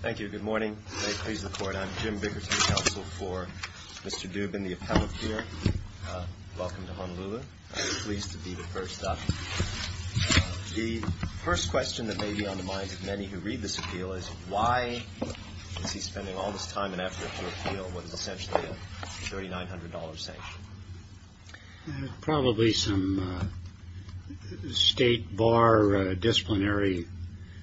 Thank you. Good morning. May it please the Court, I'm Jim Bickerton, counsel for Mr. Dubin, the appellate here. Welcome to Honolulu. I'm pleased to be the first up. The first question that may be on the minds of many who read this appeal is, why is he spending all this time and effort to appeal what is essentially a $3,900 sanction? Probably some state bar disciplinary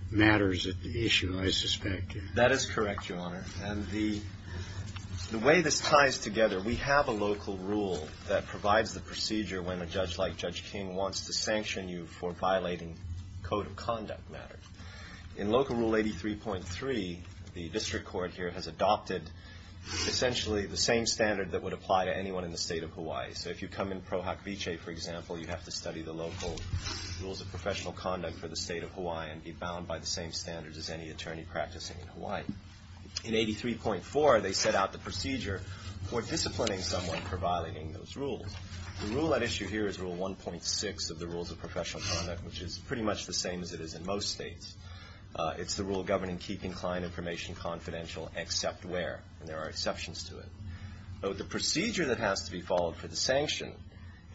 matters at the issue, I suspect. That is correct, Your Honor. And the way this ties together, we have a local rule that provides the procedure when a judge like Judge King wants to sanction you for violating code of conduct matters. In local rule 83.3, the district court here has adopted essentially the same standard that would apply to anyone in the state of Hawaii. So if you come in pro hoc vice, for example, you have to study the local rules of professional conduct for the state of Hawaii and be bound by the same standards as any attorney practicing in Hawaii. In 83.4, they set out the procedure for disciplining someone for violating those rules. The rule at issue here is rule 1.6 of the rules of professional conduct, which is pretty much the same as it is in most states. It's the rule governing keeping client information confidential except where, and there are exceptions to it. The procedure that has to be followed for the sanction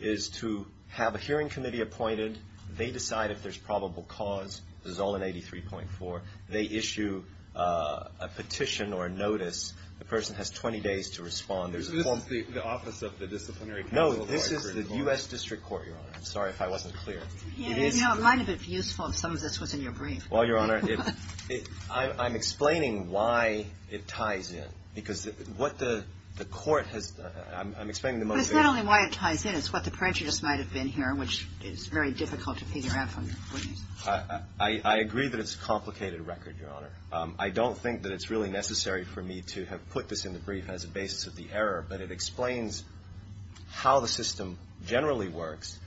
is to have a hearing committee appointed. They decide if there's probable cause. This is all in 83.4. They issue a petition or a notice. The person has 20 days to respond. This is the office of the disciplinary council of Hawaii. No, this is the U.S. District Court, Your Honor. I'm sorry if I wasn't clear. It might have been useful if some of this was in your brief. Well, Your Honor, I'm explaining why it ties in, because what the court has done I'm explaining the motivation. But it's not only why it ties in. It's what the prejudice might have been here, which is very difficult to peter out from your witness. I agree that it's a complicated record, Your Honor. I don't think that it's really necessary for me to have put this in the brief as a basis of the error, but it explains how the system generally works.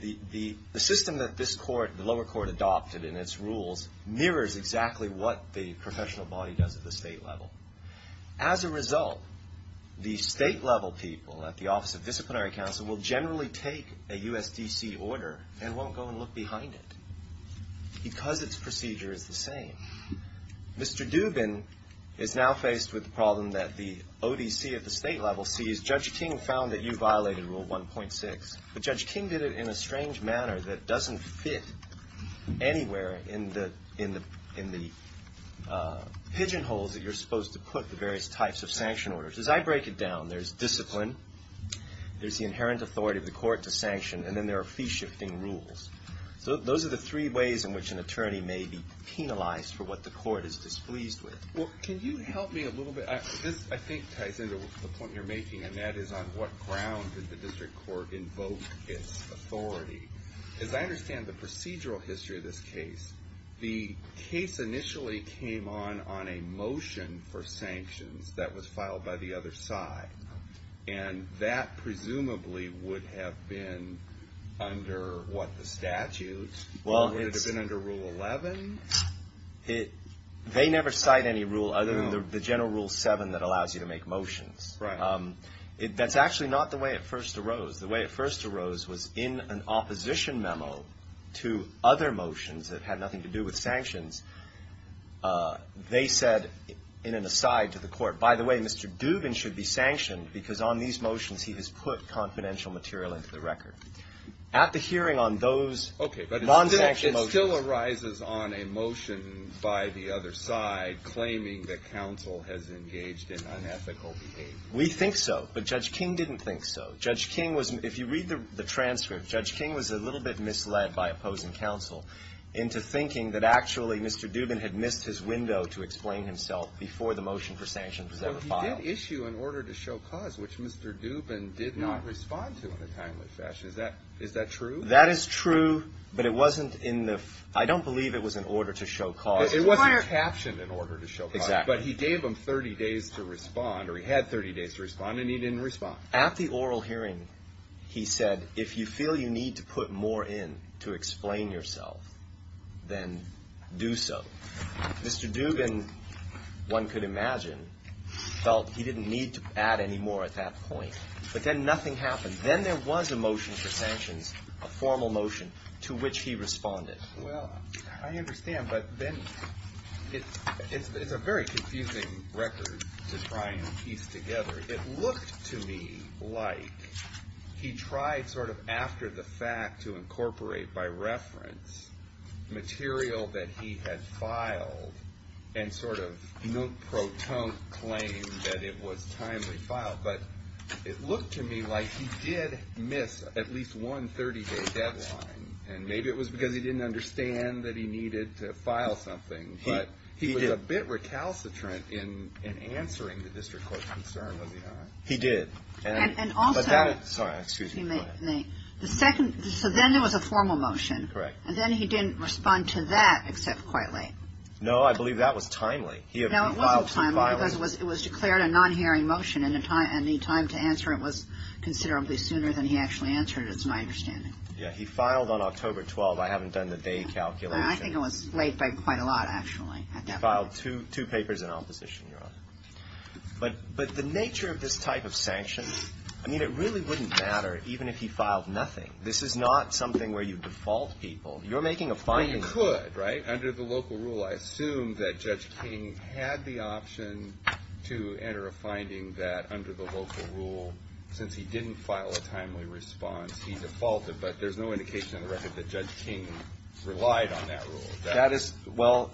The system that this court, the lower court adopted in its rules, mirrors exactly what the professional body does at the state level. As a result, the state-level people at the office of disciplinary council will generally take a USDC order and won't go and look behind it because its procedure is the same. Mr. Dubin is now faced with the problem that the ODC at the state level sees. Judge King found that you violated Rule 1.6. But Judge King did it in a strange manner that doesn't fit anywhere in the pigeonholes that you're supposed to put the various types of sanction orders. As I break it down, there's discipline, there's the inherent authority of the court to sanction, and then there are fee-shifting rules. So those are the three ways in which an attorney may be penalized for what the court is displeased with. Well, can you help me a little bit? This, I think, ties into the point you're making, and that is, on what ground did the district court invoke its authority? As I understand the procedural history of this case, the case initially came on on a motion for sanctions that was filed by the other side. And that presumably would have been under, what, the statute? Would it have been under Rule 11? They never cite any rule other than the general Rule 7 that allows you to make motions. Right. That's actually not the way it first arose. The way it first arose was in an opposition memo to other motions that had nothing to do with sanctions. They said, in an aside to the court, by the way, Mr. Dubin should be sanctioned because on these motions he has put confidential material into the record. At the hearing on those non-sanctioned motions. Okay. But it still arises on a motion by the other side claiming that counsel has engaged in unethical behavior. We think so. But Judge King didn't think so. Judge King was — if you read the transcript, Judge King was a little bit misled by opposing counsel into thinking that actually Mr. Dubin had missed his window to explain himself before the motion for sanctions was ever filed. But he did issue an order to show cause, which Mr. Dubin did not respond to in a timely fashion. Is that true? That is true. But it wasn't in the — I don't believe it was an order to show cause. It wasn't captioned an order to show cause. Exactly. But he gave them 30 days to respond, or he had 30 days to respond, and he didn't respond. At the oral hearing, he said, if you feel you need to put more in to explain yourself, then do so. Mr. Dubin, one could imagine, felt he didn't need to add any more at that point. But then nothing happened. Then there was a motion for sanctions, a formal motion, to which he responded. Well, I understand. But then it's a very confusing record to try and piece together. It looked to me like he tried sort of after the fact to incorporate by reference material that he had filed and sort of note-proton claim that it was timely filed. But it looked to me like he did miss at least one 30-day deadline. And maybe it was because he didn't understand that he needed to file something. But he was a bit recalcitrant in answering the district court's concern, was he not? He did. Sorry, excuse me. Go ahead. So then there was a formal motion. Correct. And then he didn't respond to that except quite late. No, I believe that was timely. No, it wasn't timely because it was declared a non-hearing motion, and the time to answer it was considerably sooner than he actually answered it, is my understanding. Yeah, he filed on October 12th. I haven't done the day calculation. I think it was late by quite a lot, actually. He filed two papers in opposition, Your Honor. But the nature of this type of sanction, I mean, it really wouldn't matter even if he filed nothing. This is not something where you default people. You're making a finding. He could, right, under the local rule. I assume that Judge King had the option to enter a finding that under the local rule, since he didn't file a timely response, he defaulted. But there's no indication in the record that Judge King relied on that rule. Well,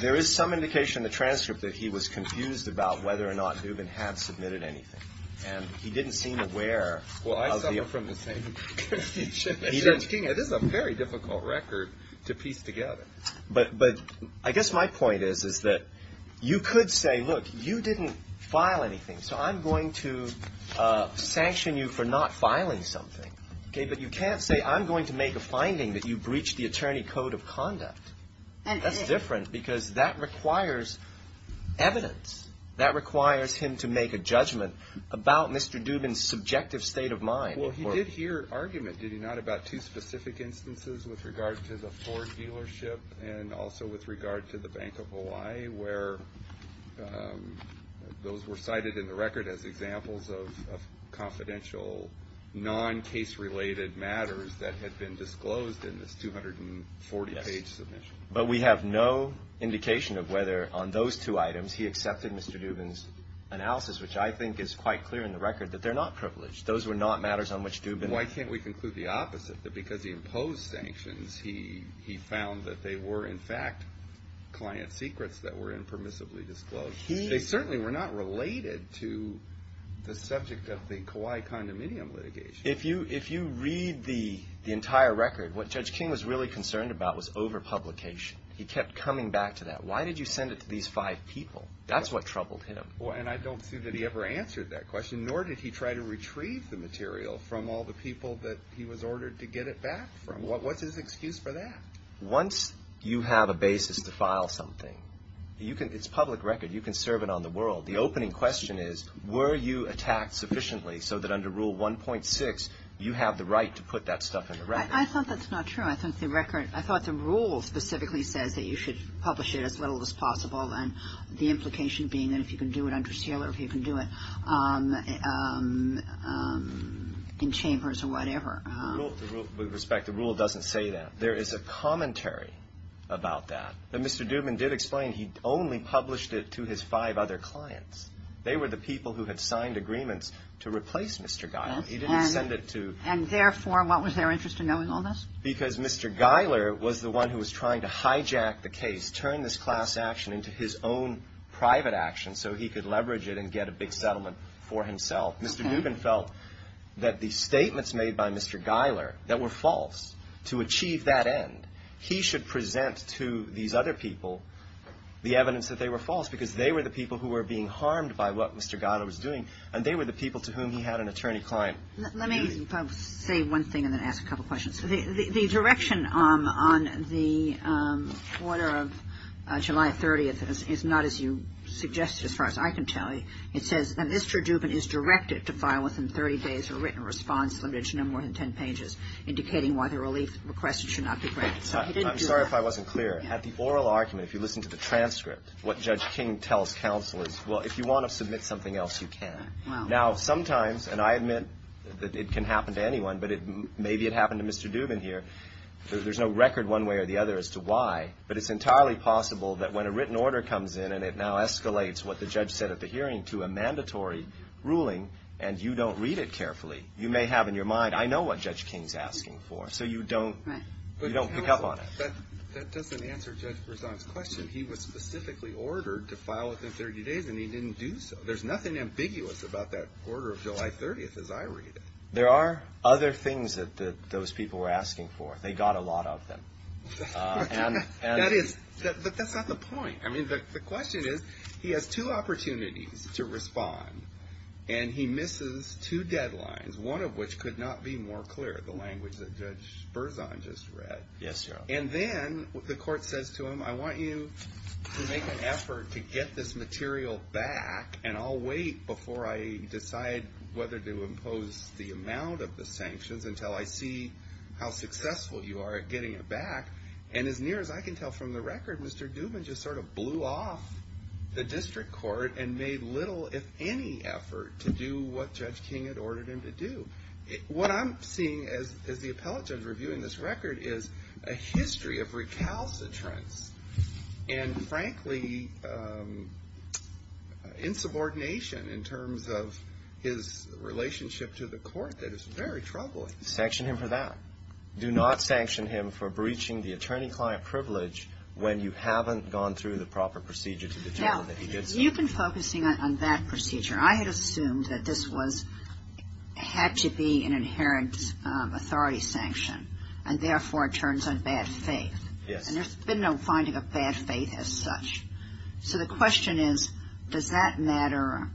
there is some indication in the transcript that he was confused about whether or not Newman had submitted anything. And he didn't seem aware. Well, I suffer from the same issue as Judge King. It is a very difficult record to piece together. But I guess my point is that you could say, look, you didn't file anything, so I'm going to sanction you for not filing something. Okay, but you can't say I'm going to make a finding that you breached the attorney code of conduct. That's different, because that requires evidence. That requires him to make a judgment about Mr. Newman's subjective state of mind. Well, he did hear argument, did he not, about two specific instances with regard to the Ford dealership and also with regard to the Bank of Hawaii, where those were cited in the record as examples of confidential, non-case-related matters that had been disclosed in this 240-page submission. But we have no indication of whether on those two items he accepted Mr. Newman's analysis, which I think is quite clear in the record that they're not privileged. Those were not matters on which Newman… Why can't we conclude the opposite, that because he imposed sanctions, he found that they were, in fact, client secrets that were impermissibly disclosed? They certainly were not related to the subject of the Kauai condominium litigation. If you read the entire record, what Judge King was really concerned about was overpublication. He kept coming back to that. Why did you send it to these five people? That's what troubled him. And I don't see that he ever answered that question, nor did he try to retrieve the material from all the people that he was ordered to get it back from. What's his excuse for that? Once you have a basis to file something, it's public record. You can serve it on the world. The opening question is, were you attacked sufficiently so that under Rule 1.6, you have the right to put that stuff in the record? I thought that's not true. I thought the rule specifically says that you should publish it as little as possible, and the implication being that if you can do it under seal or if you can do it in chambers or whatever. With respect, the rule doesn't say that. There is a commentary about that that Mr. Dubin did explain. He only published it to his five other clients. They were the people who had signed agreements to replace Mr. Geiler. He didn't send it to — And therefore, what was their interest in knowing all this? Because Mr. Geiler was the one who was trying to hijack the case, turn this class action into his own private action so he could leverage it and get a big settlement for himself. Mr. Dubin felt that the statements made by Mr. Geiler that were false, to achieve that end, he should present to these other people the evidence that they were false, because they were the people who were being harmed by what Mr. Geiler was doing, and they were the people to whom he had an attorney-client. Let me say one thing and then ask a couple questions. The direction on the order of July 30th is not as you suggested, as far as I can tell you. It says that Mr. Dubin is directed to file within 30 days a written response, limited to no more than 10 pages, indicating why the relief request should not be granted. So he didn't do that. I'm sorry if I wasn't clear. At the oral argument, if you listen to the transcript, what Judge King tells counsel is, well, if you want to submit something else, you can. Now, sometimes, and I admit that it can happen to anyone, but maybe it happened to Mr. Dubin here. There's no record one way or the other as to why, but it's entirely possible that when a written order comes in and it now escalates what the judge said at the hearing to a mandatory ruling and you don't read it carefully, you may have in your mind, I know what Judge King's asking for, so you don't pick up on it. That doesn't answer Judge Berzon's question. He was specifically ordered to file within 30 days, and he didn't do so. There's nothing ambiguous about that order of July 30th as I read it. There are other things that those people were asking for. They got a lot of them. That is, but that's not the point. I mean, the question is, he has two opportunities to respond, and he misses two deadlines, one of which could not be more clear, the language that Judge Berzon just read. Yes, Your Honor. And then the court says to him, I want you to make an effort to get this material back, and I'll wait before I decide whether to impose the amount of the sanctions until I see how successful you are at getting it back. And as near as I can tell from the record, Mr. Dubin just sort of blew off the district court and made little, if any, effort to do what Judge King had ordered him to do. What I'm seeing as the appellate judge reviewing this record is a history of recalcitrance and, frankly, insubordination in terms of his relationship to the court that is very troubling. Sanction him for that. Do not sanction him for breaching the attorney-client privilege when you haven't gone through the proper procedure to determine that he did so. Now, you've been focusing on that procedure. I had assumed that this had to be an inherent authority sanction, and therefore it turns on bad faith. Yes. And there's been no finding of bad faith as such. So the question is, does that matter?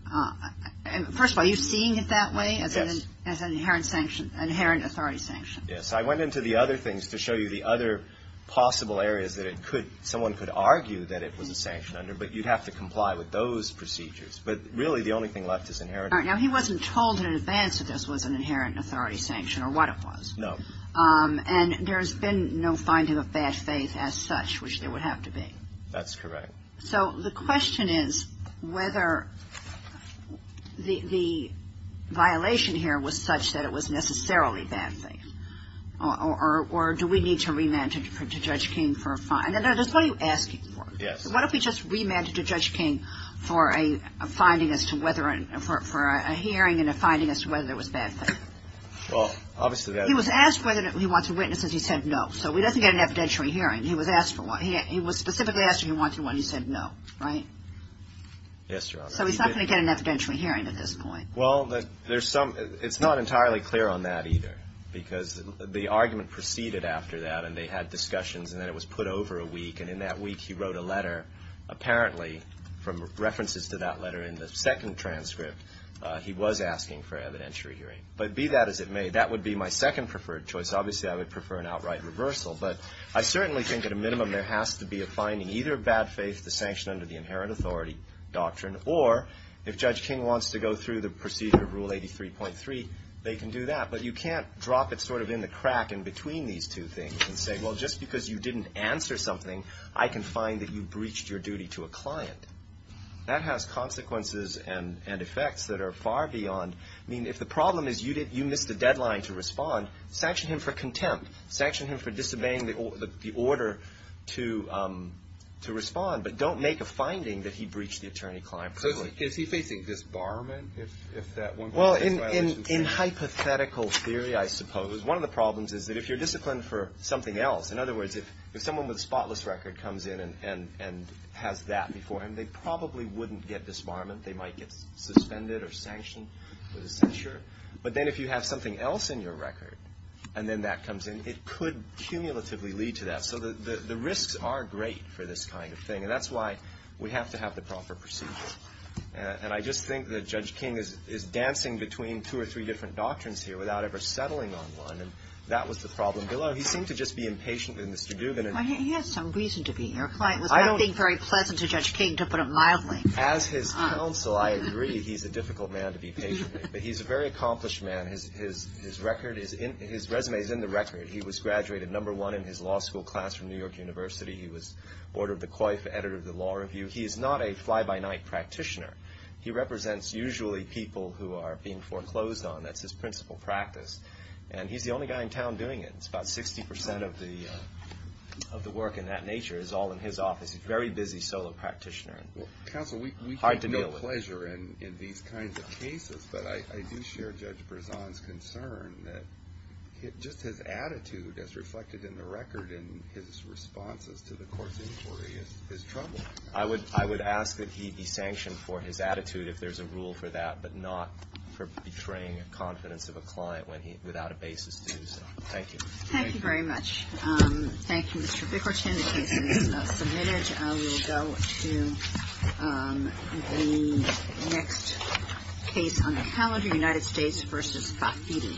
First of all, are you seeing it that way? Yes. As an inherent sanction, inherent authority sanction? Yes. I went into the other things to show you the other possible areas that it could, someone could argue that it was a sanction under, but you'd have to comply with those procedures. But really, the only thing left is inherent. All right. Now, he wasn't told in advance that this was an inherent authority sanction or what it was. No. And there's been no finding of bad faith as such, which there would have to be. That's correct. So the question is whether the violation here was such that it was necessarily bad faith, or do we need to remand it to Judge King for a fine? No, that's what you're asking for. Yes. What if we just remand it to Judge King for a finding as to whether, for a hearing and a finding as to whether it was bad faith? Well, obviously that would be. He was asked whether he wanted witnesses. He said no. So he doesn't get an evidentiary hearing. He was asked for one. He was specifically asked if he wanted one. He said no. Right? Yes, Your Honor. So he's not going to get an evidentiary hearing at this point. Well, there's some. It's not entirely clear on that either, because the argument proceeded after that, and they had discussions, and then it was put over a week. And in that week, he wrote a letter. Apparently, from references to that letter in the second transcript, he was asking for evidentiary hearing. But be that as it may, that would be my second preferred choice. Obviously, I would prefer an outright reversal, but I certainly think at a minimum there has to be a finding, either bad faith, the sanction under the inherent authority doctrine, or if Judge King wants to go through the procedure of Rule 83.3, they can do that. But you can't drop it sort of in the crack in between these two things and say, well, just because you didn't answer something, I can find that you breached your duty to a client. That has consequences and effects that are far beyond. I mean, if the problem is you missed a deadline to respond, sanction him for contempt. Sanction him for disobeying the order to respond, but don't make a finding that he breached the attorney-client requirement. So is he facing disbarment if that one goes through? Well, in hypothetical theory, I suppose. One of the problems is that if you're disciplined for something else, in other words, if someone with a spotless record comes in and has that before him, they probably wouldn't get disbarment. They might get suspended or sanctioned for the censure. But then if you have something else in your record and then that comes in, it could cumulatively lead to that. So the risks are great for this kind of thing, and that's why we have to have the proper procedures. And I just think that Judge King is dancing between two or three different doctrines here without ever settling on one, and that was the problem below. He seemed to just be impatient with Mr. Dubin. He had some reason to be. Your client was not being very pleasant to Judge King, to put it mildly. As his counsel, I agree he's a difficult man to be patient with. But he's a very accomplished man. His resume is in the record. He was graduated number one in his law school class from New York University. He was board of the COIF, editor of the Law Review. He is not a fly-by-night practitioner. He represents usually people who are being foreclosed on. That's his principal practice. And he's the only guy in town doing it. About 60 percent of the work in that nature is all in his office. He's a very busy solo practitioner. Well, counsel, we have no pleasure in these kinds of cases. But I do share Judge Brezon's concern that just his attitude, as reflected in the record and his responses to the court's inquiry, is troubling. I would ask that he be sanctioned for his attitude if there's a rule for that, but not for betraying confidence of a client without a basis to do so. Thank you. Thank you very much. Thank you, Mr. Bicourt. The case is submitted. We will go to the next case on the calendar, United States v. Fafiti.